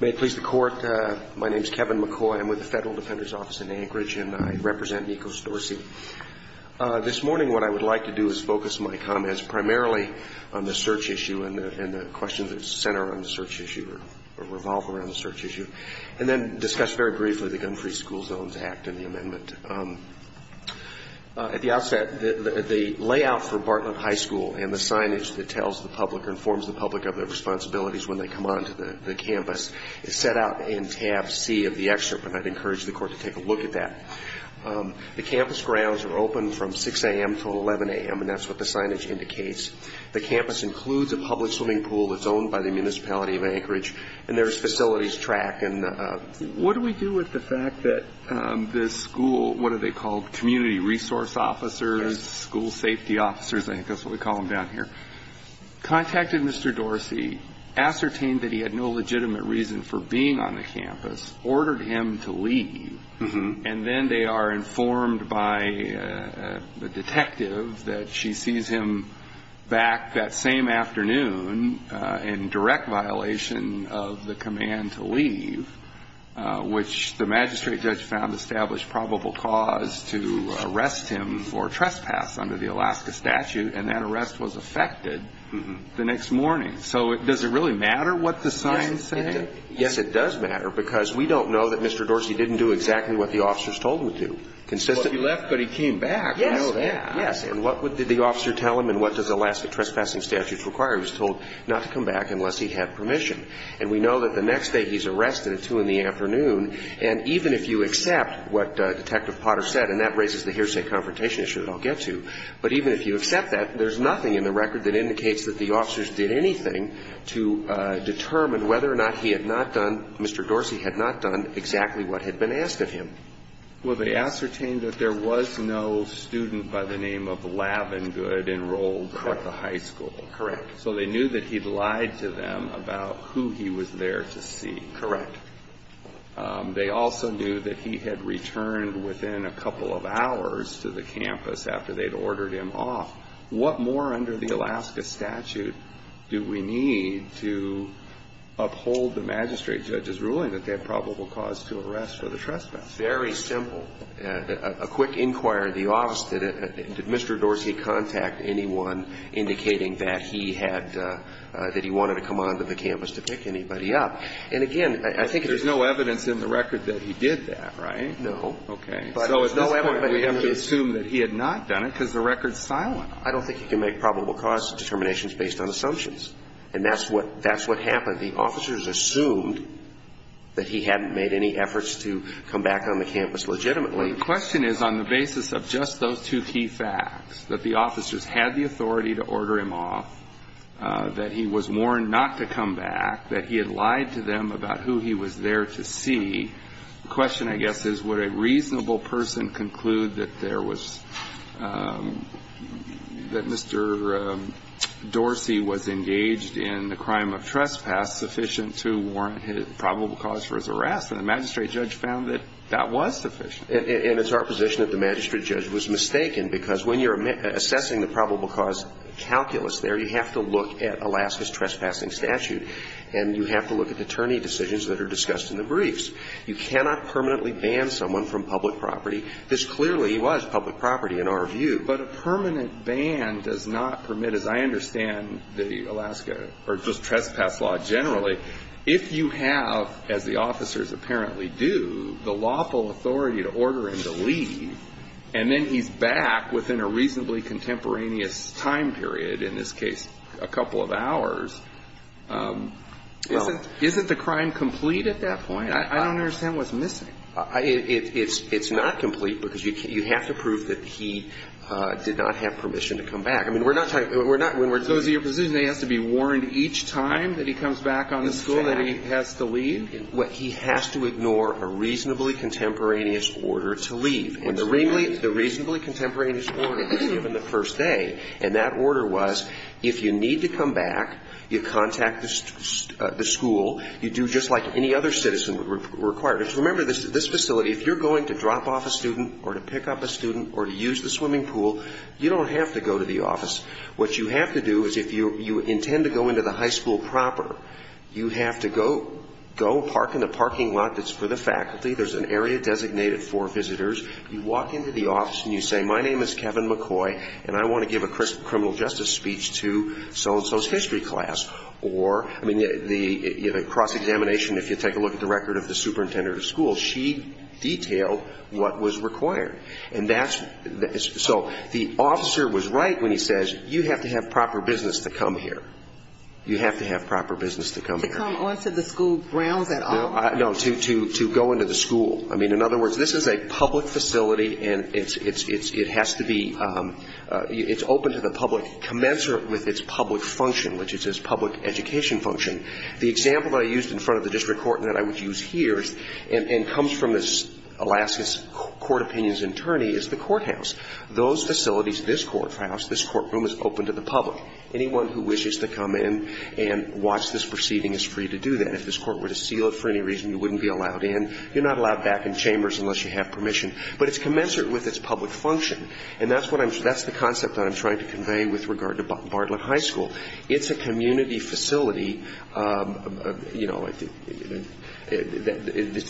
May it please the Court, my name is Kevin McCoy. I'm with the Federal Defender's Office in Anchorage and I represent Nico Dorsey. This morning what I would like to do is focus my comments primarily on the search issue and the questions that center on the search issue or revolve around the search issue, and then discuss very briefly the Gun-Free School Zones Act and the amendment. At the outset, the layout for Bartlett High School and the signage that tells the public or informs the public of their responsibilities when they come onto the campus is set out in tab C of the excerpt, and I'd encourage the Court to take a look at that. The campus grounds are open from 6 a.m. to 11 a.m., and that's what the signage indicates. The campus includes a public swimming pool that's owned by the municipality of Anchorage, and there's facilities track. What do we do with the fact that the school, what are they called, community resource officers, school safety officers, I think that's what we call them down here, contacted Mr. Dorsey, ascertained that he had no legitimate reason for being on the campus, ordered him to leave, and then they are informed by the detective that she sees him back that same afternoon in direct violation of the command to leave, which the magistrate judge found established probable cause to arrest him for trespass under the Alaska statute, and that arrest was effected the next morning. So does it really matter what the sign said? Yes, it does matter, because we don't know that Mr. Dorsey didn't do exactly what the officers told him to do. Well, he left, but he came back. Yes, yes. And what did the officer tell him, and what does Alaska trespassing statute require? He was told not to come back unless he had permission. And we know that the next day he's arrested at 2 in the afternoon, and even if you accept what Detective Potter said, and that raises the hearsay confrontation issue that I'll get to, but even if you accept that, there's nothing in the record that indicates that the officers did anything to determine whether or not he had not done, Mr. Dorsey had not done, exactly what had been asked of him. Well, they ascertained that there was no student by the name of Lavengood enrolled at the high school. Correct. So they knew that he'd lied to them about who he was there to see. Correct. They also knew that he had returned within a couple of hours to the campus after they'd ordered him off. What more under the Alaska statute do we need to uphold the magistrate judge's ruling that they had probable cause to arrest for the trespass? Very simple. A quick inquiry of the office. Did Mr. Dorsey contact anyone indicating that he had, that he wanted to come on to the campus to pick anybody up? And again, I think there's no evidence in the record that he did that, right? No. Okay. So at this point, we have to assume that he had not done it because the record's silent on it. I don't think he can make probable cause determinations based on assumptions. And that's what happened. The officers assumed that he hadn't made any efforts to come back on the campus legitimately. The question is, on the basis of just those two key facts, that the officers had the authority to order him off, that he was warned not to come back, that he had lied to them about who he was there to see, The question, I guess, is would a reasonable person conclude that there was, that Mr. Dorsey was engaged in the crime of trespass sufficient to warrant his probable cause for his arrest? And the magistrate judge found that that was sufficient. And it's our position that the magistrate judge was mistaken because when you're assessing the probable cause calculus there, you have to look at Alaska's trespassing statute. And you have to look at attorney decisions that are discussed in the briefs. You cannot permanently ban someone from public property. This clearly was public property in our view. But a permanent ban does not permit, as I understand the Alaska or just trespass law generally, if you have, as the officers apparently do, the lawful authority to order him to leave, and then he's back within a reasonably contemporaneous time period, in this case a couple of hours, isn't the crime complete at that point? I don't understand what's missing. It's not complete because you have to prove that he did not have permission to come back. I mean, we're not talking – we're not – So is it your position that he has to be warned each time that he comes back on the school that he has to leave? He has to ignore a reasonably contemporaneous order to leave. And the reasonably contemporaneous order was given the first day. And that order was if you need to come back, you contact the school. You do just like any other citizen required. Remember, this facility, if you're going to drop off a student or to pick up a student or to use the swimming pool, you don't have to go to the office. What you have to do is if you intend to go into the high school proper, you have to go park in the parking lot that's for the faculty. There's an area designated for visitors. You walk into the office and you say, my name is Kevin McCoy, and I want to give a criminal justice speech to so-and-so's history class. Or, I mean, the cross-examination, if you take a look at the record of the superintendent of the school, she detailed what was required. And that's – so the officer was right when he says you have to have proper business to come here. You have to have proper business to come here. To come onto the school grounds at all? No, to go into the school. I mean, in other words, this is a public facility, and it has to be – it's open to the public commensurate with its public function, which is its public education function. The example that I used in front of the district court and that I would use here and comes from this Alaska's court opinions attorney is the courthouse. Those facilities, this courthouse, this courtroom is open to the public. Anyone who wishes to come in and watch this proceeding is free to do that. If this court were to seal it for any reason, you wouldn't be allowed in. You're not allowed back in chambers unless you have permission. But it's commensurate with its public function, and that's the concept that I'm trying to convey with regard to Bartlett High School. It's a community facility. It's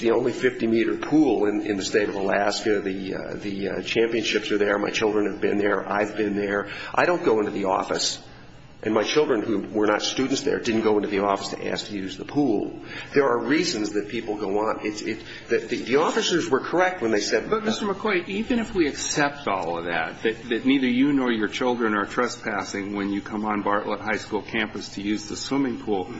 the only 50-meter pool in the state of Alaska. The championships are there. My children have been there. I've been there. I don't go into the office, and my children who were not students there didn't go into the office to ask to use the pool. There are reasons that people go on. The officers were correct when they said that. But, Mr. McCoy, even if we accept all of that, that neither you nor your children are trespassing when you come on Bartlett High School campus to use the swimming pool,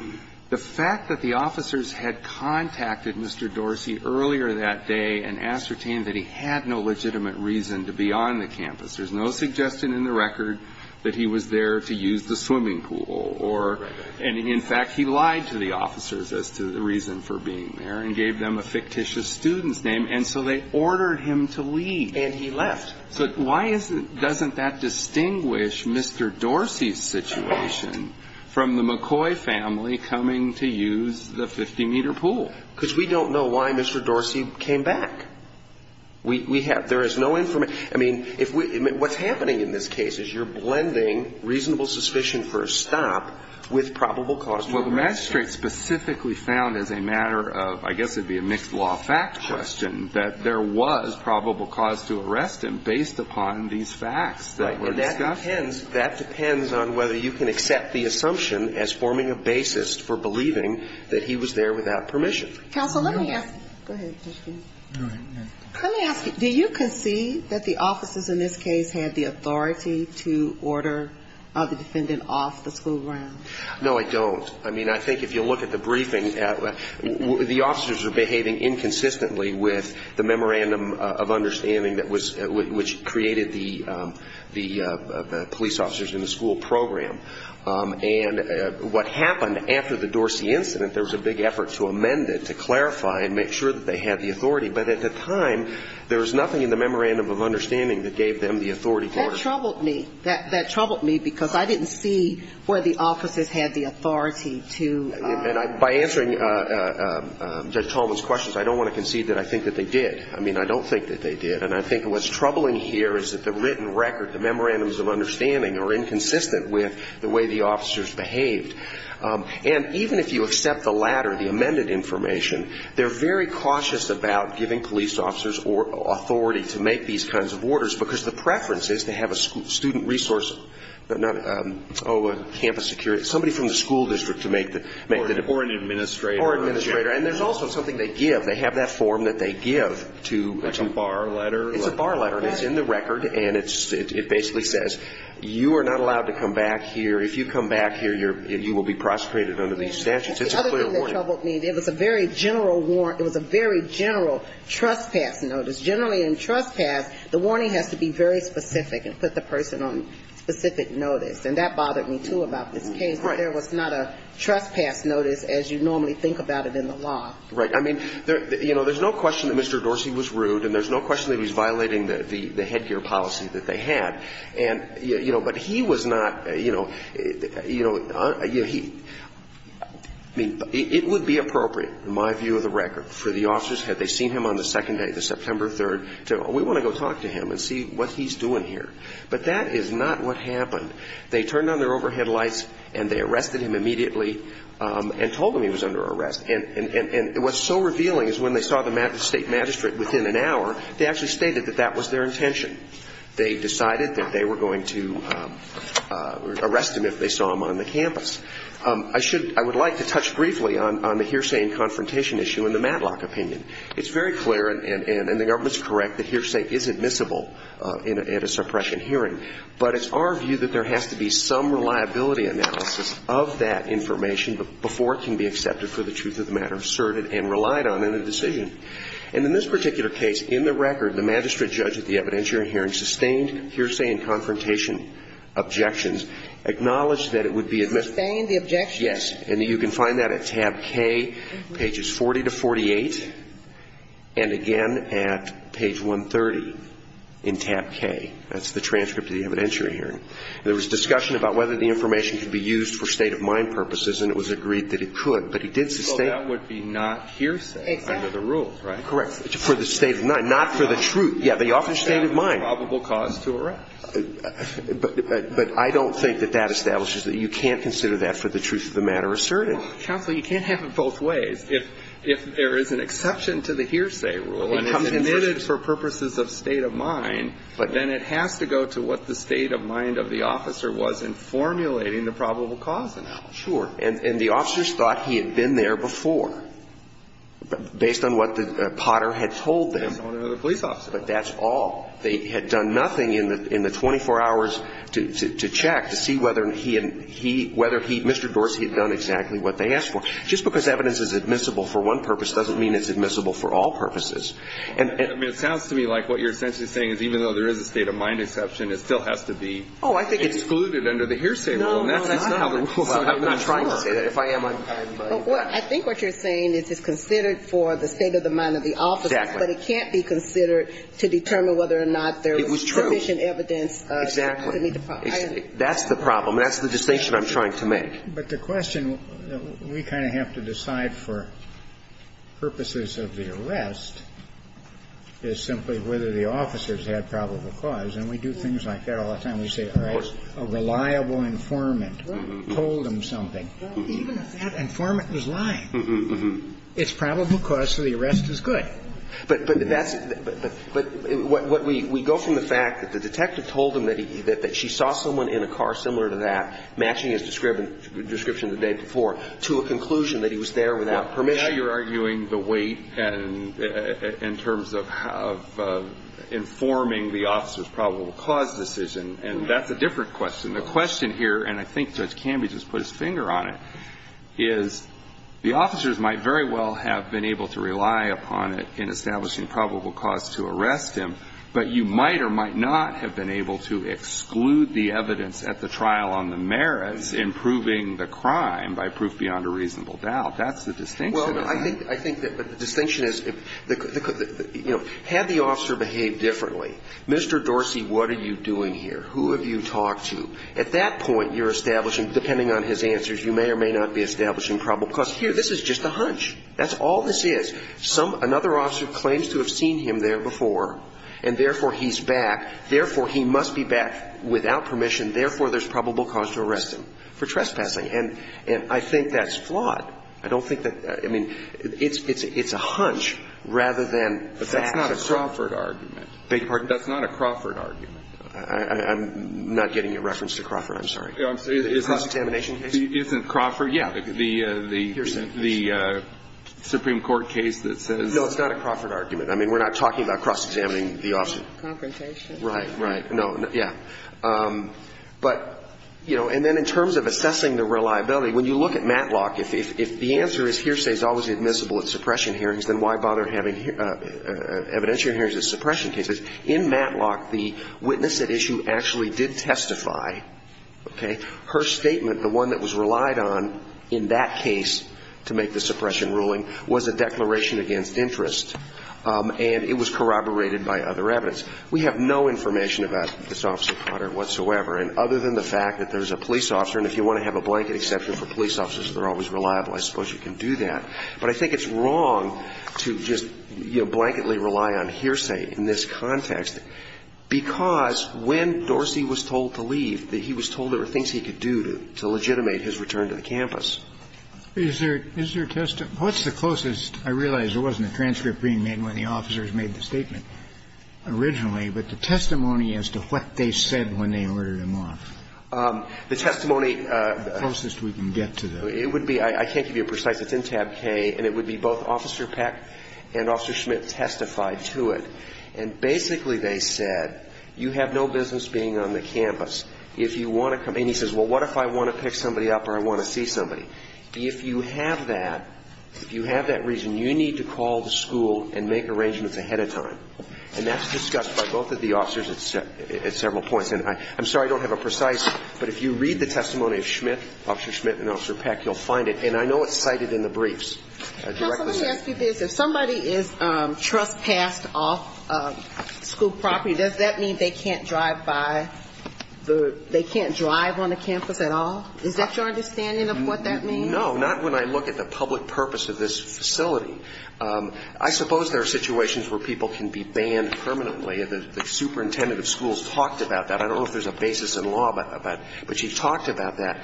the fact that the officers had contacted Mr. Dorsey earlier that day and ascertained that he had no legitimate reason to be on the campus, there's no suggestion in the record that he was there to use the swimming pool, or in fact, he lied to the campus to the reason for being there and gave them a fictitious student's name, and so they ordered him to leave. And he left. So why doesn't that distinguish Mr. Dorsey's situation from the McCoy family coming to use the 50-meter pool? Because we don't know why Mr. Dorsey came back. We have. There is no information. I mean, what's happening in this case is you're blending reasonable suspicion for a stop with probable cause to arrest him. Well, the magistrate specifically found as a matter of, I guess it would be a mixed law fact question, that there was probable cause to arrest him based upon these facts that were discussed. Right. And that depends on whether you can accept the assumption as forming a basis for believing that he was there without permission. Counsel, let me ask you. Go ahead. Let me ask you, do you concede that the officers in this case had the authority to order the defendant off the school ground? No, I don't. I mean, I think if you look at the briefing, the officers are behaving inconsistently with the memorandum of understanding that was ñ which created the police officers in the school program. And what happened after the Dorsey incident, there was a big effort to amend it, to clarify and make sure that they had the authority. But at the time, there was nothing in the memorandum of understanding that gave them the authority to order. That troubled me. That troubled me, because I didn't see where the officers had the authority to ñ And by answering Judge Tallman's questions, I don't want to concede that I think that they did. I mean, I don't think that they did. And I think what's troubling here is that the written record, the memorandums of understanding are inconsistent with the way the officers behaved. And even if you accept the latter, the amended information, they're very cautious about giving police officers authority to make these kinds of orders, because the preference is to have a student resource ñ oh, a campus security ñ somebody from the school district to make the ñ Or an administrator. Or an administrator. And there's also something they give. They have that form that they give to ñ Like a bar letter. It's a bar letter. And it's in the record. And it basically says, you are not allowed to come back here. If you come back here, you will be prosecuted under these statutes. It's a clear warning. That's the other thing that troubled me. It was a very general ñ it was a very general trespass notice. Generally in trespass, the warning has to be very specific and put the person on specific notice. And that bothered me, too, about this case. Right. That there was not a trespass notice as you normally think about it in the law. Right. I mean, you know, there's no question that Mr. Dorsey was rude, and there's no question that he was violating the headgear policy that they had. And, you know, but he was not, you know ñ you know, he ñ I mean, it would be appropriate, in my view of the record, for the officers, had they seen him on the second day, the September 3rd, to, we want to go talk to him and see what he's doing here. But that is not what happened. They turned on their overhead lights, and they arrested him immediately, and told him he was under arrest. And what's so revealing is when they saw the state magistrate within an hour, they actually stated that that was their intention. They decided that they were going to arrest him if they saw him on the campus. I should ñ I would like to touch briefly on the hearsay and confrontation issue and the Matlock opinion. It's very clear, and the government's correct, that hearsay is admissible at a suppression hearing. But it's our view that there has to be some reliability analysis of that information before it can be accepted for the truth of the matter, asserted and relied on in a decision. And in this particular case, in the record, the magistrate judge at the evidence hearing sustained hearsay and confrontation objections, acknowledged that it would be ñ Sustained the objections? Yes. And you can find that at tab K, pages 40 to 48, and again at page 130 in tab K. That's the transcript of the evidentiary hearing. There was discussion about whether the information could be used for state-of-mind purposes, and it was agreed that it could. But he did sustain ñ So that would be not hearsay under the rule, right? Exactly. Correct. For the state of mind, not for the truth. Yeah, but he offered state of mind. That would be a probable cause to arrest. But I don't think that that establishes that you can't consider that for the truth of the matter asserted. Counsel, you can't have it both ways. If there is an exception to the hearsay rule and it's admitted for purposes of state of mind, then it has to go to what the state of mind of the officer was in formulating the probable cause analysis. Sure. And the officers thought he had been there before, based on what Potter had told them. But that's all. They had done nothing in the 24 hours to check to see whether he ñ whether he, Mr. Dorsey had done exactly what they asked for. Just because evidence is admissible for one purpose doesn't mean it's admissible for all purposes. And ñ I mean, it sounds to me like what you're essentially saying is even though there is a state of mind exception, it still has to be ñ Oh, I think it's ñ Excluded under the hearsay rule. No, no. That's not how the rule ñ I'm not trying to say that. If I am, I'm ñ Well, I think what you're saying is it's considered for the state of mind of the officer. Exactly. But it can't be considered to determine whether or not there was sufficient evidence ñ It was true. Exactly. That's the problem. That's the distinction I'm trying to make. But the question that we kind of have to decide for purposes of the arrest is simply whether the officers had probable cause. And we do things like that all the time. We say, all right, a reliable informant told him something. Even if that informant was lying, it's probable cause, so the arrest is good. But that's ñ but what we go from the fact that the detective told him that he ñ that she saw someone in a car similar to that matching his description the day before to a conclusion that he was there without permission. Now you're arguing the weight in terms of informing the officer's probable cause decision. And that's a different question. The question here, and I think Judge Camby just put his finger on it, is the officers might very well have been able to rely upon it in establishing probable cause to arrest him, but you might or might not have been able to exclude the evidence at the trial on the merits in proving the crime by proof beyond a reasonable doubt. That's the distinction. Well, I think ñ I think that the distinction is, you know, had the officer behaved differently, Mr. Dorsey, what are you doing here? Who have you talked to? At that point, you're establishing, depending on his answers, you may or may not be establishing probable cause. Here, this is just a hunch. That's all this is. Another officer claims to have seen him there before, and therefore, he's back. Therefore, he must be back without permission. Therefore, there's probable cause to arrest him for trespassing. And I think that's flawed. I don't think that ñ I mean, it's a hunch rather than fact. But that's not a Crawford argument. Beg your pardon? That's not a Crawford argument. I'm not getting a reference to Crawford. I'm sorry. It's not ñ A contamination case? Isn't Crawford ñ yeah. The ñ the ñ Here, sir. The Supreme Court case that says ñ No, it's not a Crawford argument. I mean, we're not talking about cross-examining the officer. Confrontation. Right, right. No, yeah. But, you know, and then in terms of assessing the reliability, when you look at Matlock, if the answer is hearsay is always admissible at suppression hearings, then why bother having evidentiary hearings at suppression cases? In Matlock, the witness at issue actually did testify, okay? Her statement, the one that was relied on in that case to make the suppression ruling, was a declaration against interest. And it was corroborated by other evidence. We have no information about this officer, Carter, whatsoever. And other than the fact that there's a police officer, and if you want to have a blanket exception for police officers, they're always reliable. I suppose you can do that. But I think it's wrong to just, you know, blanketly rely on hearsay in this context, because when Dorsey was told to leave, he was told there were things he could do to legitimate his return to the campus. Is there a testimony? What's the closest? I realize there wasn't a transcript being made when the officers made the statement originally, but the testimony as to what they said when they ordered him off. The testimony. The closest we can get to that. It would be, I can't give you a precise, it's in tab K, and it would be both Officer Peck and Officer Schmidt testified to it. And basically they said, you have no business being on the campus if you want to come. And he says, well, what if I want to pick somebody up or I want to see somebody? If you have that, if you have that reason, you need to call the school and make arrangements ahead of time. And that's discussed by both of the officers at several points. And I'm sorry I don't have a precise, but if you read the testimony of Schmidt, Officer Schmidt and Officer Peck, you'll find it. And I know it's cited in the briefs. Counsel, let me ask you this. If somebody is trespassed off school property, does that mean they can't drive by the, they can't drive on the campus at all? Is that your understanding of what that means? No, not when I look at the public purpose of this facility. I suppose there are situations where people can be banned permanently. The superintendent of schools talked about that. I don't know if there's a basis in law, but she talked about that.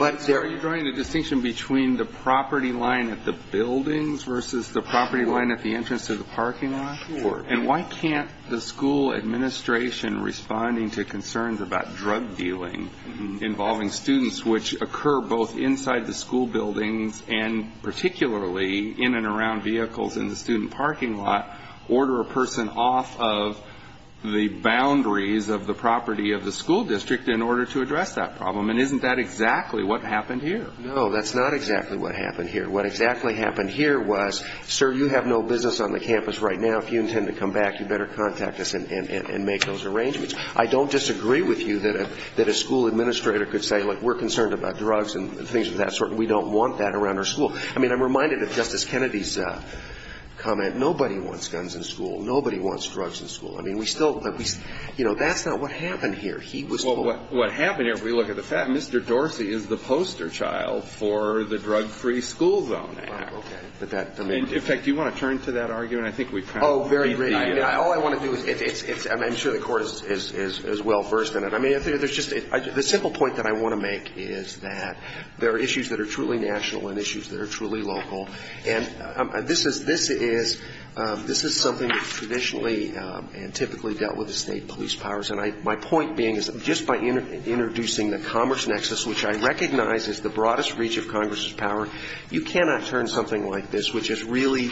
Are you drawing a distinction between the property line at the buildings versus the property line at the entrance to the parking lot? Sure. And why can't the school administration responding to concerns about drug dealing involving students, which occur both inside the school buildings and particularly in and around vehicles in the student parking lot, order a person off of the boundaries of the property of the school district in order to address that problem? And isn't that exactly what happened here? No, that's not exactly what happened here. What exactly happened here was, sir, you have no business on the campus right now. If you intend to come back, you better contact us and make those arrangements. I don't disagree with you that a school administrator could say, look, we're concerned about drugs and things of that sort. We don't want that around our school. I mean, I'm reminded of Justice Kennedy's comment. Nobody wants guns in school. Nobody wants drugs in school. I mean, we still, you know, that's not what happened here. He was told. Well, what happened here, if we look at the fact, Mr. Dorsey is the poster child for the drug-free school zone act. Okay. In fact, do you want to turn to that argument? I think we've kind of beaten you. Oh, very briefly. All I want to do is, I mean, I'm sure the Court is well-versed in it. I mean, there's just a simple point that I want to make is that there are issues that are truly national and issues that are truly local. And this is something that traditionally and typically dealt with the state police powers. And my point being is just by introducing the commerce nexus, which I recognize is the broadest reach of Congress's power, you cannot turn something like this, which is really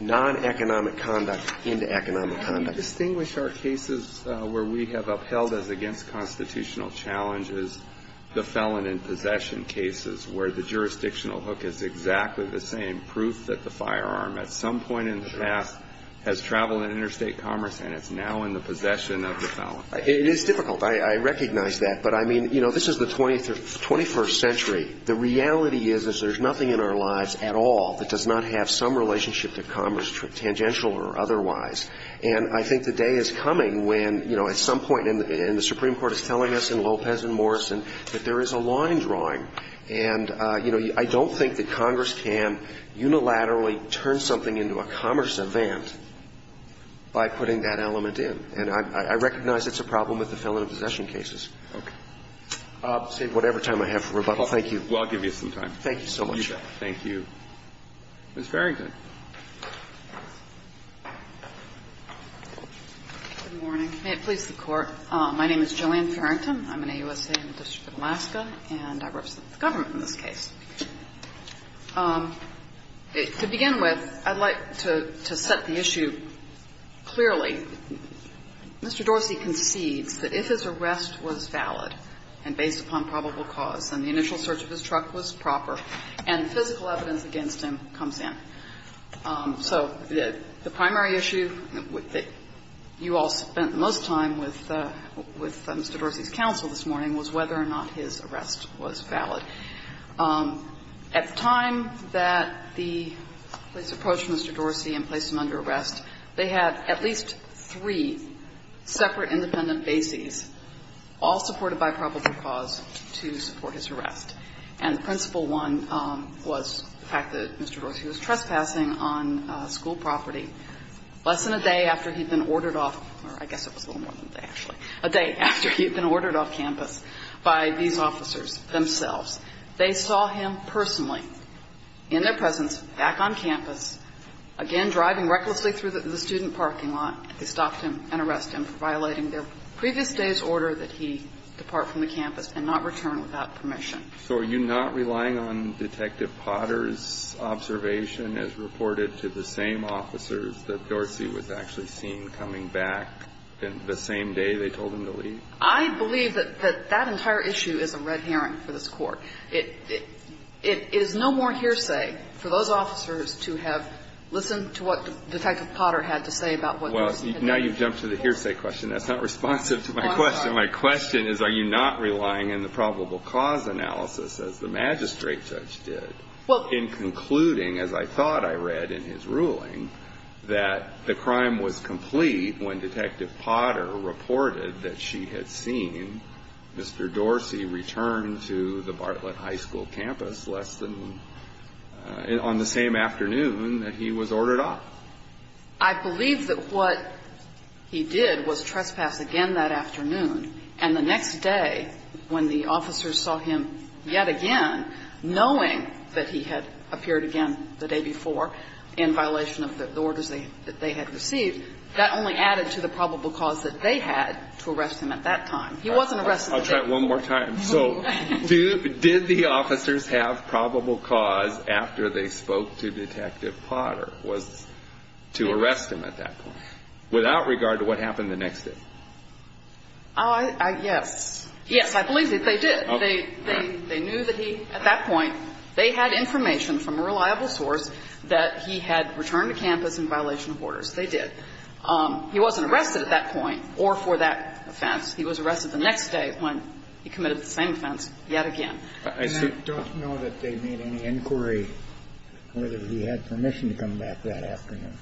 non-economic conduct, into economic conduct. Can you distinguish our cases where we have upheld as against constitutional challenges the felon in possession cases where the jurisdictional hook is exactly the same, proof that the firearm at some point in the past has traveled in interstate commerce and it's now in the possession of the felon? It is difficult. I recognize that. But, I mean, you know, this is the 21st century. The reality is is there's nothing in our lives at all that does not have some relationship to commerce, tangential or otherwise. And I think the day is coming when, you know, at some point in the Supreme Court is telling us in Lopez and Morrison that there is a line drawing. And, you know, I don't think that Congress can unilaterally turn something into a commerce event by putting that element in. And I recognize it's a problem with the felon in possession cases. Okay. I'll save whatever time I have for rebuttal. Thank you. Well, I'll give you some time. Thank you so much. You bet. Thank you. Ms. Farrington. Good morning. May it please the Court. My name is Jillian Farrington. I'm an AUSA in the District of Alaska, and I represent the government in this case. To begin with, I'd like to set the issue clearly. Mr. Dorsey concedes that if his arrest was valid and based upon probable cause and the initial search of his truck was proper and physical evidence against him comes in, so the primary issue that you all spent most time with Mr. Dorsey's counsel this morning was whether or not his arrest was valid. At the time that the police approached Mr. Dorsey and placed him under arrest, they had at least three separate independent bases, all supported by probable cause, to support his arrest. And the principal one was the fact that Mr. Dorsey was trespassing on school property less than a day after he'd been ordered off, or I guess it was a little more than a day, actually, a day after he'd been ordered off campus by these officers themselves. They saw him personally in their presence back on campus, again driving recklessly through the student parking lot. They stopped him and arrested him for violating the previous day's order that he depart from the campus and not return without permission. So are you not relying on Detective Potter's observation as reported to the same officers that Dorsey was actually seen coming back the same day they told him to leave? I believe that that entire issue is a red herring for this Court. It is no more hearsay for those officers to have listened to what Detective Potter had to say about what Dorsey had done. Well, now you've jumped to the hearsay question. That's not responsive to my question. My question is, are you not relying on the probable cause analysis, as the magistrate judge did, in concluding, as I thought I read in his ruling, that the crime was complete when Detective Potter reported that she had seen Mr. Dorsey return to the Bartlett High School campus on the same afternoon that he was ordered off? I believe that what he did was trespass again that afternoon, and the next day, when the magistrate judge, knowing that he had appeared again the day before in violation of the orders that they had received, that only added to the probable cause that they had to arrest him at that time. He wasn't arrested that day. I'll try it one more time. So did the officers have probable cause after they spoke to Detective Potter was to arrest him at that point, without regard to what happened the next day? Yes. Yes, I believe that they did. They knew that he, at that point, they had information from a reliable source that he had returned to campus in violation of orders. They did. He wasn't arrested at that point or for that offense. He was arrested the next day when he committed the same offense yet again. And I don't know that they made any inquiry whether he had permission to come back that afternoon.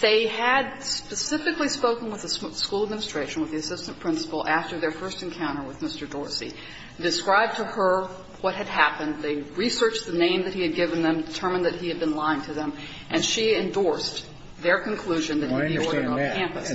They had specifically spoken with the school administration, with the assistant principal, after their first encounter with Mr. Dorsey, described to her what had happened. They researched the name that he had given them, determined that he had been lying to them, and she endorsed their conclusion that he'd be ordered off campus.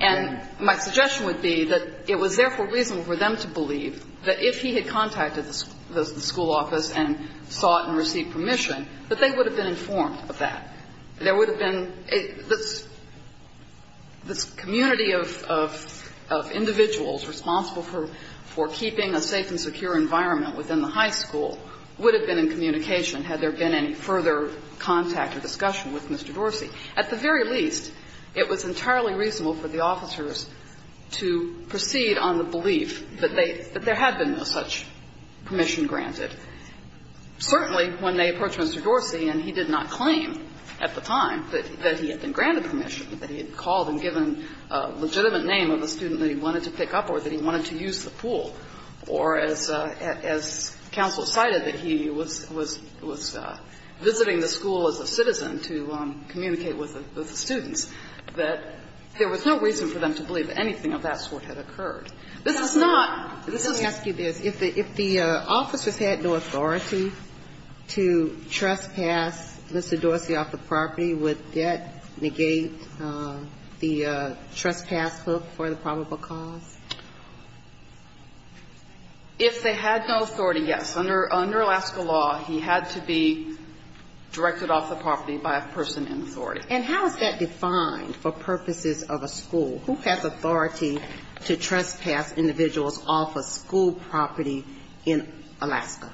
And my suggestion would be that it was therefore reasonable for them to believe that if he had contacted the school office and sought and received permission that they would have been informed of that. There would have been a – this community of individuals responsible for keeping a safe and secure environment within the high school would have been in communication had there been any further contact or discussion with Mr. Dorsey. At the very least, it was entirely reasonable for the officers to proceed on the belief that they – that there had been no such permission granted. Certainly, when they approached Mr. Dorsey, and he did not claim at the time that he had been granted permission, that he had called and given a legitimate name of a student that he wanted to pick up or that he wanted to use the pool, or, as counsel cited, that he was visiting the school as a citizen to communicate with the students, that there was no reason for them to believe that anything of that sort had occurred. This is not – this is not the case. If officers had no authority to trespass Mr. Dorsey off the property, would that negate the trespass hook for the probable cause? If they had no authority, yes. Under Alaska law, he had to be directed off the property by a person in authority. And how is that defined for purposes of a school? Who has authority to trespass individuals off a school property in Alaska?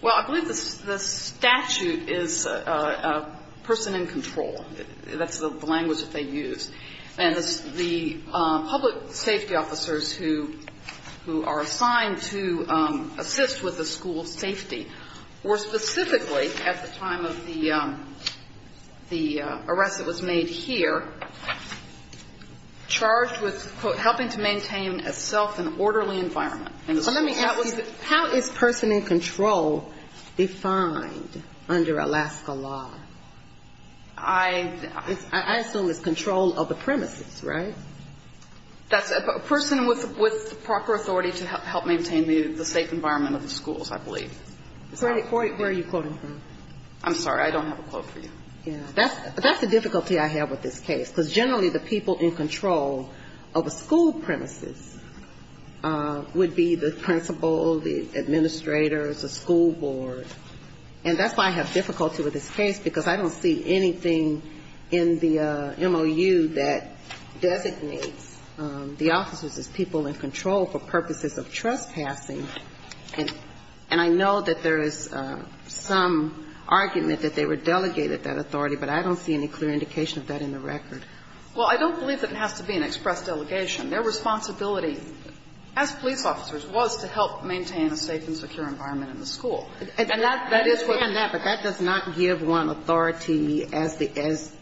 Well, I believe the statute is a person in control. That's the language that they use. And the public safety officers who – who are assigned to assist with the school's safety were specifically, at the time of the – the arrest that was made here, charged with, quote, helping to maintain a self-and-orderly environment. And the school was – How is person in control defined under Alaska law? I assume it's control of the premises, right? That's a person with proper authority to help maintain the safe environment of the schools, I believe. Where are you quoting from? I'm sorry. I don't have a quote for you. That's the difficulty I have with this case. Because generally the people in control of a school premises would be the principal, the administrators, the school board. And that's why I have difficulty with this case, because I don't see anything in the MOU that designates the officers as people in control for purposes of trespassing. And I know that there is some argument that they were delegated that authority, but I don't see any clear indication of that in the record. Well, I don't believe that it has to be an express delegation. Their responsibility, as police officers, was to help maintain a safe and secure environment in the school. And that is what we have. But that does not give one authority as the – as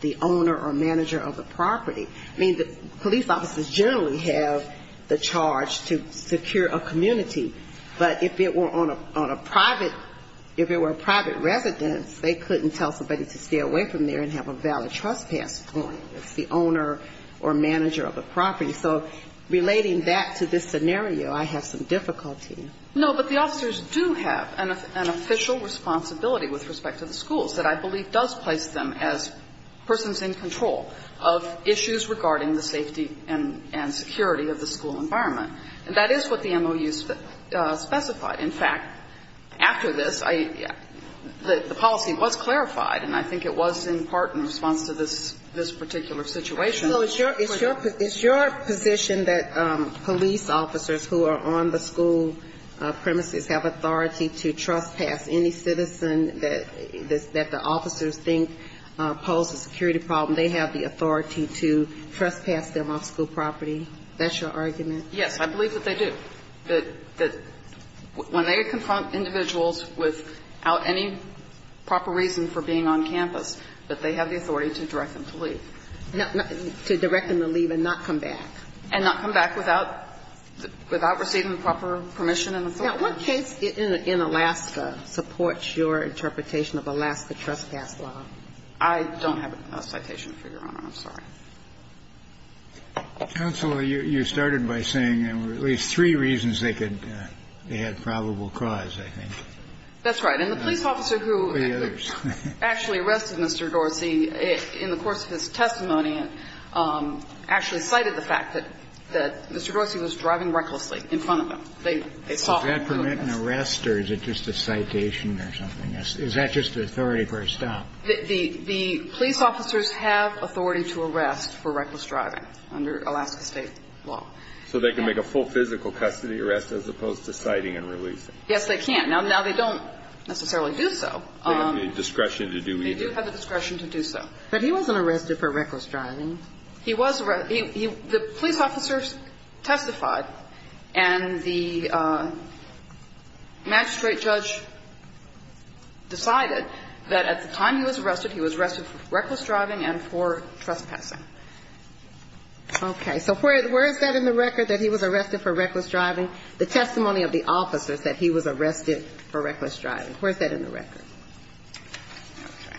the owner or manager of the property. I mean, the police officers generally have the charge to secure a community. But if it were on a private – if it were a private residence, they couldn't tell somebody to stay away from there and have a valid trespass point. It's the owner or manager of the property. So relating that to this scenario, I have some difficulty. No, but the officers do have an official responsibility with respect to the schools that I believe does place them as persons in control of issues regarding the safety and security of the school environment. And that is what the MOU specified. In fact, after this, the policy was clarified, and I think it was in part in response to this particular situation. It's your position that police officers who are on the school premises have authority to trespass any citizen that the officers think posed a security problem. They have the authority to trespass them off school property. That's your argument? Yes. I believe that they do. That when they confront individuals without any proper reason for being on campus, that they have the authority to direct them to leave. To direct them to leave and not come back. And not come back without receiving the proper permission and authority. Now, what case in Alaska supports your interpretation of Alaska trespass law? I don't have a citation for Your Honor. I'm sorry. Counsel, you started by saying there were at least three reasons they could add probable cause, I think. That's right. And the police officer who actually arrested Mr. Dorsey in the course of his testimony actually cited the fact that Mr. Dorsey was driving recklessly in front of them. Does that permit an arrest or is it just a citation or something? Is that just the authority for a stop? The police officers have authority to arrest for reckless driving under Alaska State law. So they can make a full physical custody arrest as opposed to citing and releasing. Yes, they can. Now, they don't necessarily do so. They don't have the discretion to do either. They do have the discretion to do so. But he wasn't arrested for reckless driving. The police officers testified and the magistrate judge decided that at the time he was arrested, he was arrested for reckless driving and for trespassing. Okay. So where is that in the record, that he was arrested for reckless driving? The testimony of the officer said he was arrested for reckless driving. Where is that in the record? Okay.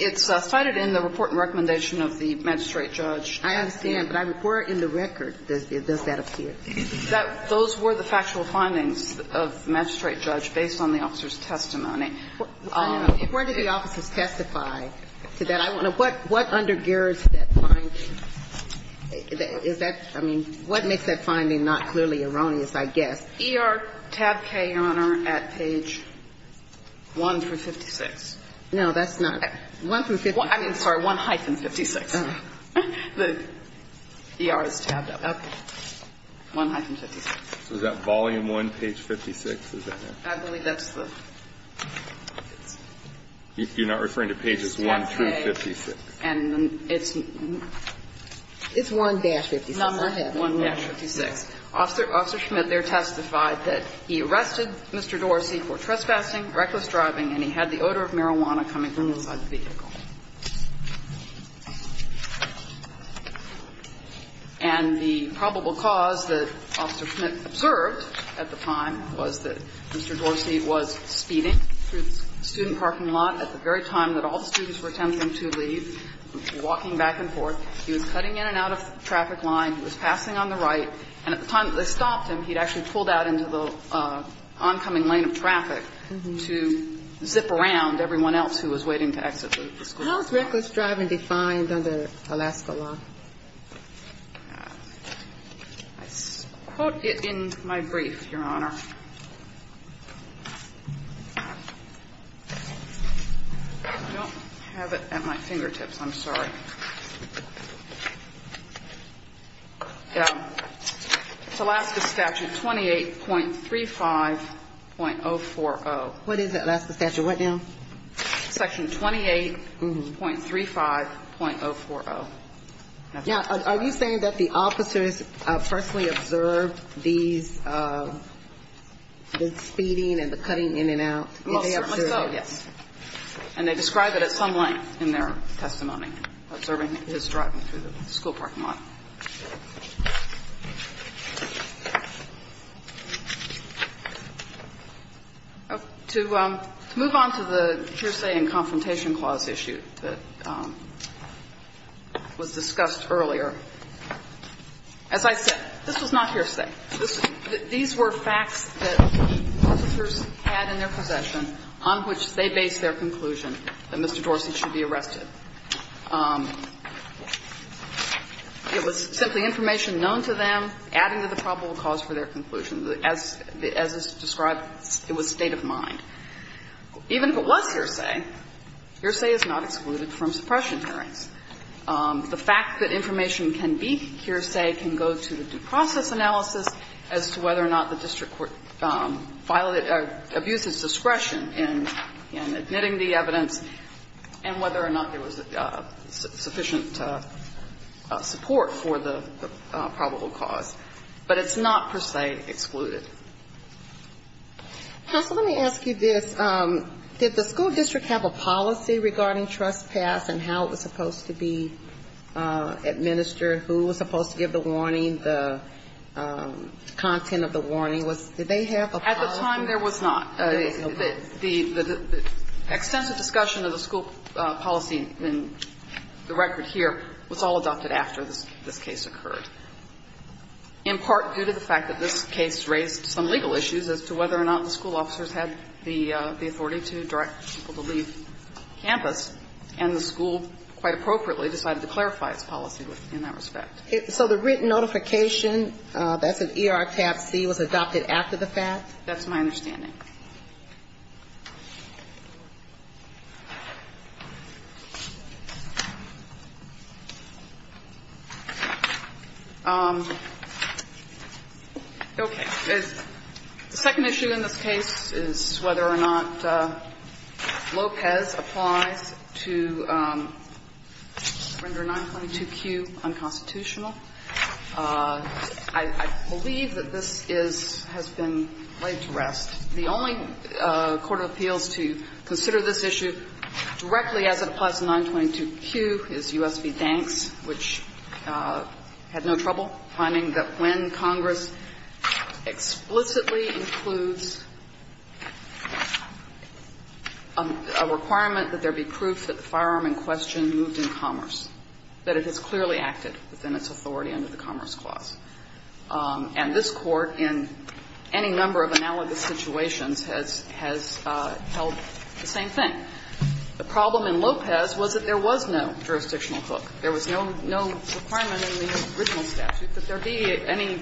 It's cited in the report and recommendation of the magistrate judge. I understand. But where in the record does that appear? Those were the factual findings of the magistrate judge based on the officer's testimony. Where did the officers testify to that? What undergirds that finding? Is that, I mean, what makes that finding not clearly erroneous, I guess? ER tab K, Your Honor, at page 1 through 56. No, that's not. 1 through 56. I'm sorry. 1-56. The ER is tabbed up. Okay. 1-56. So is that volume 1, page 56? I believe that's the. You're not referring to pages 1 through 56. And it's. It's 1-56. 1-56. Officer Schmidt there testified that he arrested Mr. Dorsey for trespassing, reckless driving, and he had the odor of marijuana coming from inside the vehicle. And the probable cause that Officer Schmidt observed at the time was that Mr. Dorsey was speeding through the student parking lot at the very time that all the students were attempting to leave, walking back and forth. He was cutting in and out of the traffic line. He was passing on the right. And at the time that they stopped him, he had actually pulled out into the oncoming lane of traffic to zip around everyone else who was waiting to exit the school. How is reckless driving defined under Alaska law? I quote it in my brief, Your Honor. I don't have it at my fingertips. I'm sorry. It's Alaska statute 28.35.040. What is it, Alaska statute? What now? Section 28.35.040. Now, are you saying that the officers personally observed these, the speeding and the cutting in and out? Well, certainly so, yes. And they describe it at some length in their testimony, observing his driving through the school parking lot. To move on to the jurisdiction and confrontation clause issued, that Mr. Dorsey was discussed earlier. As I said, this was not hearsay. These were facts that the officers had in their possession on which they based their conclusion that Mr. Dorsey should be arrested. It was simply information known to them, adding to the probable cause for their conclusion. As is described, it was state of mind. Even if it was hearsay, hearsay is not excluded from suppression hearings. The fact that information can be hearsay can go to the due process analysis as to whether or not the district court violated or abused its discretion in admitting the evidence and whether or not there was sufficient support for the probable cause. But it's not per se excluded. Counsel, let me ask you this. Did the school district have a policy regarding trespass and how it was supposed to be administered, who was supposed to give the warning, the content of the warning? Did they have a policy? At the time, there was not. The extensive discussion of the school policy in the record here was all adopted after this case occurred, in part due to the fact that this case raised some legal issues as to whether or not the school officers had the authority to direct people to leave campus, and the school quite appropriately decided to clarify its policy in that respect. So the written notification, that's an ER tab C, was adopted after the fact? That's my understanding. Okay. The second issue in this case is whether or not Lopez applies to Render 922Q unconstitutional. I believe that this is, has been laid to rest. The only court of appeals to consider this issue directly as it applies to 922Q is U.S. v. Banks, which had no trouble finding that when Congress explicitly includes a requirement that there be proof that the firearm in question moved in commerce, that it has clearly acted within its authority under the Commerce Clause. And this Court, in any number of analogous situations, has held the same thing. The problem in Lopez was that there was no jurisdictional hook. There was no requirement in the original statute that there be any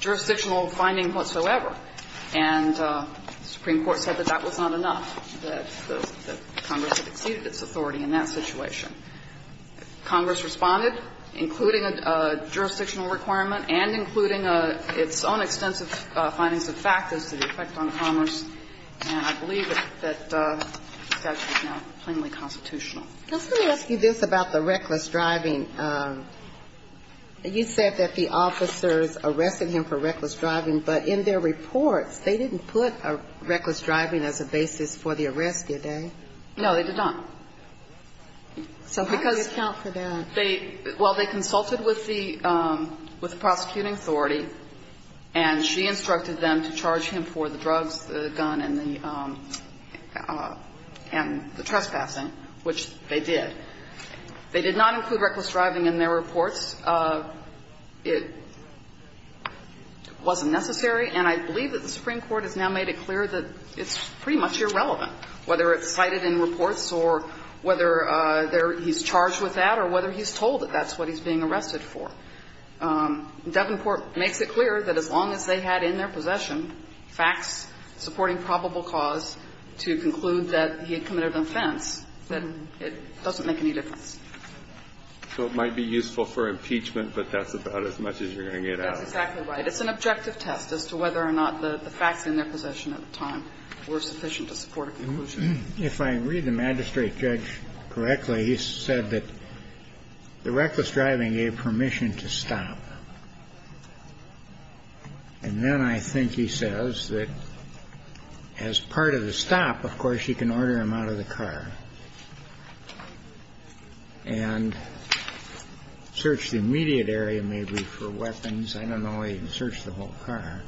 jurisdictional finding whatsoever, and the Supreme Court said that that was not enough, that Congress had exceeded its authority in that situation. Congress responded, including a jurisdictional requirement and including its own extensive findings of fact as to the effect on commerce, and I believe that the statute is now plainly constitutional. Just let me ask you this about the reckless driving. You said that the officers arrested him for reckless driving, but in their reports, they didn't put a reckless driving as a basis for the arrest, did they? No, they did not. So because they – How do you account for that? Well, they consulted with the prosecuting authority, and she instructed them to charge him for the drugs, the gun, and the trespassing, which they did. They did not include reckless driving in their reports. It wasn't necessary, and I believe that the Supreme Court has now made it clear that it's pretty much irrelevant whether it's cited in reports or whether he's charged with that or whether he's told that that's what he's being arrested for. Davenport makes it clear that as long as they had in their possession facts supporting probable cause to conclude that he had committed an offense, that it doesn't make any difference. So it might be useful for impeachment, but that's about as much as you're going to get out of it. That's exactly right. It's an objective test as to whether or not the facts in their possession at the time were sufficient to support a conclusion. If I read the magistrate judge correctly, he said that the reckless driving gave permission to stop. And then I think he says that as part of the stop, of course, you can order him out of the car and search the immediate area, maybe for weapons. I don't know if he can search the whole car.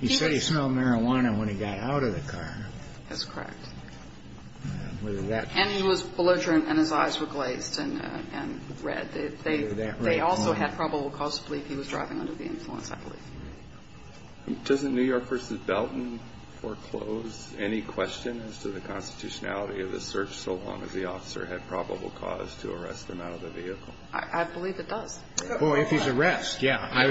He said he smelled marijuana when he got out of the car. That's correct. And he was belligerent and his eyes were glazed and red. They also had probable cause to believe he was driving under the influence, I believe. Doesn't New York v. Belton foreclose any question as to the constitutionality of the search so long as the officer had probable cause to arrest him out of the vehicle? I believe it does. Well, if he's arrest, yeah. He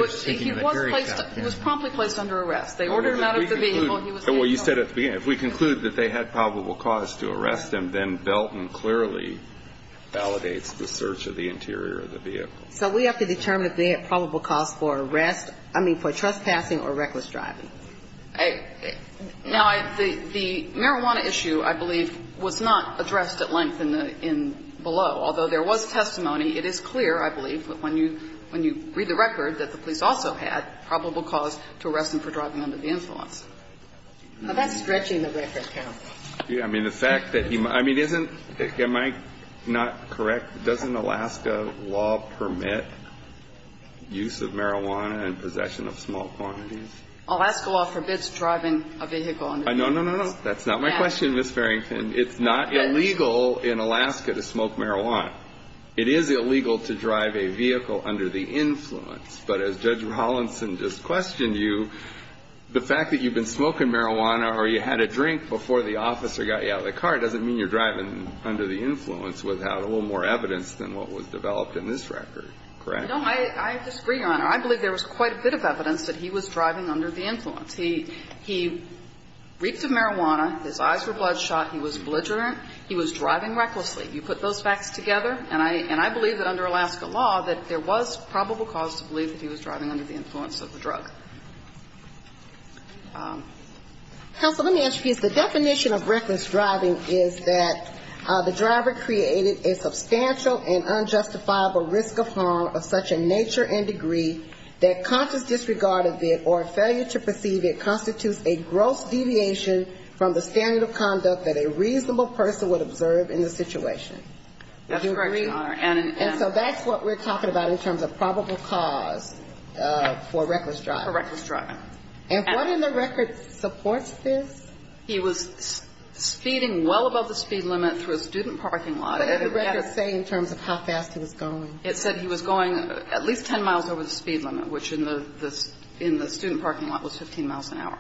was promptly placed under arrest. They ordered him out of the vehicle. Well, you said at the beginning. If we conclude that they had probable cause to arrest him, then Belton clearly validates the search of the interior of the vehicle. So we have to determine if they had probable cause for arrest, I mean, for trespassing or reckless driving. Now, the marijuana issue, I believe, was not addressed at length in below, although there was testimony. It is clear, I believe, when you read the record, that the police also had probable cause to arrest him for driving under the influence. Now, that's stretching the record, counsel. Yeah. I mean, the fact that he – I mean, isn't – am I not correct? Doesn't Alaska law permit use of marijuana in possession of small quantities? Alaska law forbids driving a vehicle under the influence. No, no, no, no. That's not my question, Ms. Farrington. It's not illegal in Alaska to smoke marijuana. It is illegal to drive a vehicle under the influence. But as Judge Hollinson just questioned you, the fact that you've been smoking marijuana or you had a drink before the officer got you out of the car doesn't mean you're driving under the influence without a little more evidence than what was developed in this record, correct? No. I disagree, Your Honor. I believe there was quite a bit of evidence that he was driving under the influence. He – he reaped the marijuana. His eyes were bloodshot. He was belligerent. He was driving recklessly. You put those facts together, and I – and I believe that under Alaska law that there was probable cause to believe that he was driving under the influence of the drug. Counsel, let me ask you this. The definition of reckless driving is that the driver created a substantial and unjustifiable risk of harm of such a nature and degree that conscious disregard of it or failure to perceive it constitutes a gross deviation from the standard of conduct that a reasonable person would observe in the situation. Would you agree? That's correct, Your Honor. And so that's what we're talking about in terms of probable cause for reckless driving. For reckless driving. And what in the record supports this? He was speeding well above the speed limit through a student parking lot. What did the record say in terms of how fast he was going? It said he was going at least 10 miles over the speed limit, which in the – in the student parking lot was 15 miles an hour.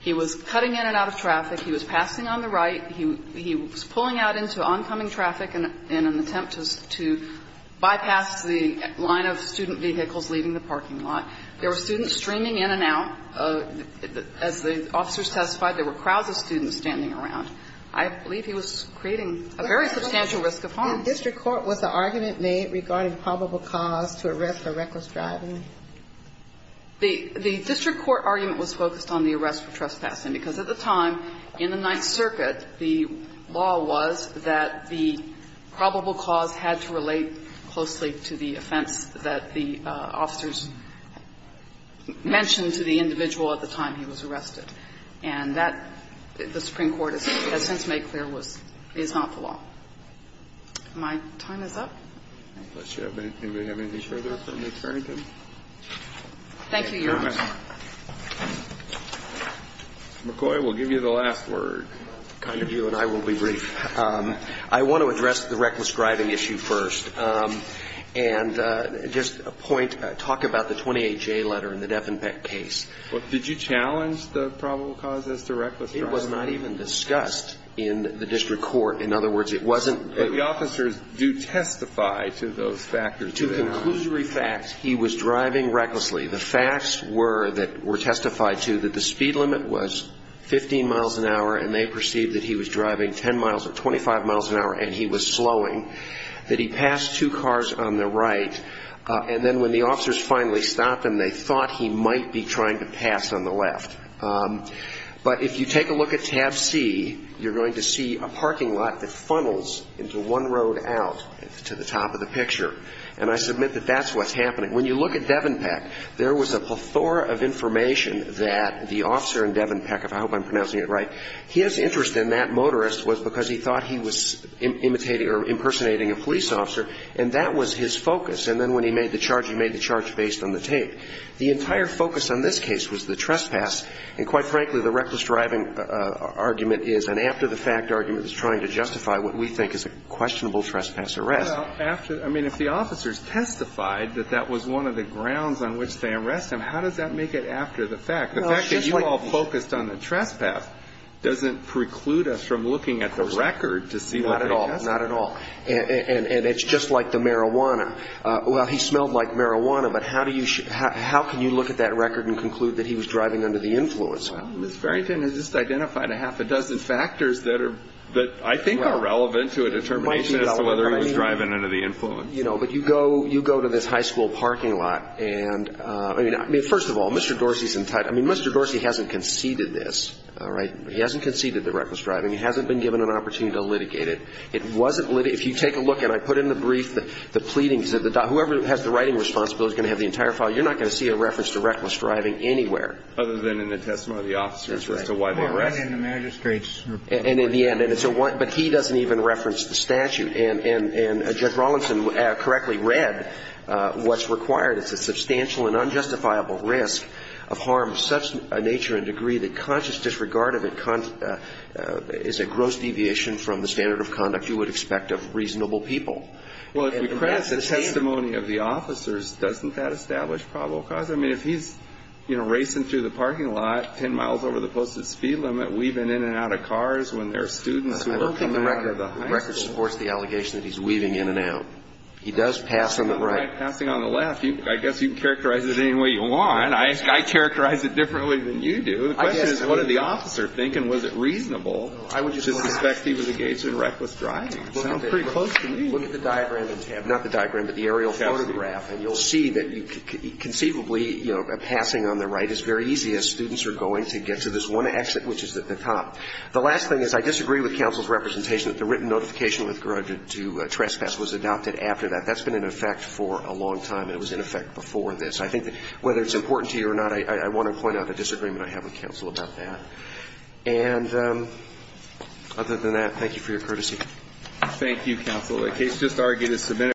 He was cutting in and out of traffic. He was passing on the right. He was pulling out into oncoming traffic in an attempt to bypass the line of student vehicles leaving the parking lot. There were students streaming in and out. As the officers testified, there were crowds of students standing around. I believe he was creating a very substantial risk of harm. The district court, was the argument made regarding probable cause to arrest a reckless driver? The district court argument was focused on the arrest for trespassing because at the time, in the Ninth Circuit, the law was that the probable cause had to relate closely to the offense that the officers mentioned to the individual at the time he was arrested. And that, the Supreme Court has since made clear, is not the law. My time is up. Does anybody have anything further? Thank you, Your Honor. McCoy, we'll give you the last word. Kind of you and I will be brief. I want to address the reckless driving issue first. And just a point. Talk about the 28J letter in the Devenbeck case. Did you challenge the probable cause as to reckless driving? It was not even discussed in the district court. In other words, it wasn't. But the officers do testify to those factors. To conclusory facts, he was driving recklessly. The facts were, that were testified to, that the speed limit was 15 miles an hour, and they perceived that he was driving 10 miles or 25 miles an hour, and he was slowing, that he passed two cars on the right. And then when the officers finally stopped him, they thought he might be trying to pass on the left. But if you take a look at tab C, you're going to see a parking lot that funnels into one road out to the top of the picture. And I submit that that's what's happening. When you look at Devenbeck, there was a plethora of information that the officer in Devenbeck, if I hope I'm pronouncing it right, his interest in that motorist was because he thought he was imitating or impersonating a police officer, and that was his focus. And then when he made the charge, he made the charge based on the tape. The entire focus on this case was the trespass. And quite frankly, the reckless driving argument is an after-the-fact argument trying to justify what we think is a questionable trespass arrest. I mean, if the officers testified that that was one of the grounds on which they arrested him, how does that make it after-the-fact? The fact that you all focused on the trespass doesn't preclude us from looking at the record to see what they testified. Not at all. Not at all. And it's just like the marijuana. Well, he smelled like marijuana, but how can you look at that record and conclude that he was driving under the influence? Well, Ms. Farrington has just identified a half a dozen factors that are – that I think are relevant to a determination as to whether he was driving under the influence. You know, but you go – you go to this high school parking lot and – I mean, first of all, Mr. Dorsey's entitled – I mean, Mr. Dorsey hasn't conceded this, all right? He hasn't conceded the reckless driving. He hasn't been given an opportunity to litigate it. It wasn't litigated. If you take a look, and I put in the brief the pleadings that the – whoever has the writing responsibility is going to have the entire file. You're not going to see a reference to reckless driving anywhere. Other than in the testimony of the officers as to why they arrested him. That's right. I mean, right in the magistrate's report. And in the end. But he doesn't even reference the statute. And Judge Rawlinson correctly read what's required. It's a substantial and unjustifiable risk of harm of such a nature and degree that conscious disregard of it is a gross deviation from the standard of conduct you would expect of reasonable people. Well, if we press the testimony of the officers, doesn't that establish probable I mean, if he's, you know, racing through the parking lot, 10 miles over the posted speed limit, weaving in and out of cars when there are students who are coming out of the high school. I don't think the record supports the allegation that he's weaving in and out. He does pass on the right. Passing on the left. I guess you can characterize it any way you want. I characterize it differently than you do. The question is, what did the officer think, and was it reasonable to suspect he was engaged in reckless driving? It sounds pretty close to me. Look at the diagram, not the diagram, but the aerial photograph, and you'll see that conceivably, you know, a passing on the right is very easy as students are going to get to this one exit, which is at the top. The last thing is I disagree with counsel's representation that the written notification with regard to trespass was adopted after that. That's been in effect for a long time. It was in effect before this. I think that whether it's important to you or not, I want to point out a disagreement I have with counsel about that. And other than that, thank you for your courtesy.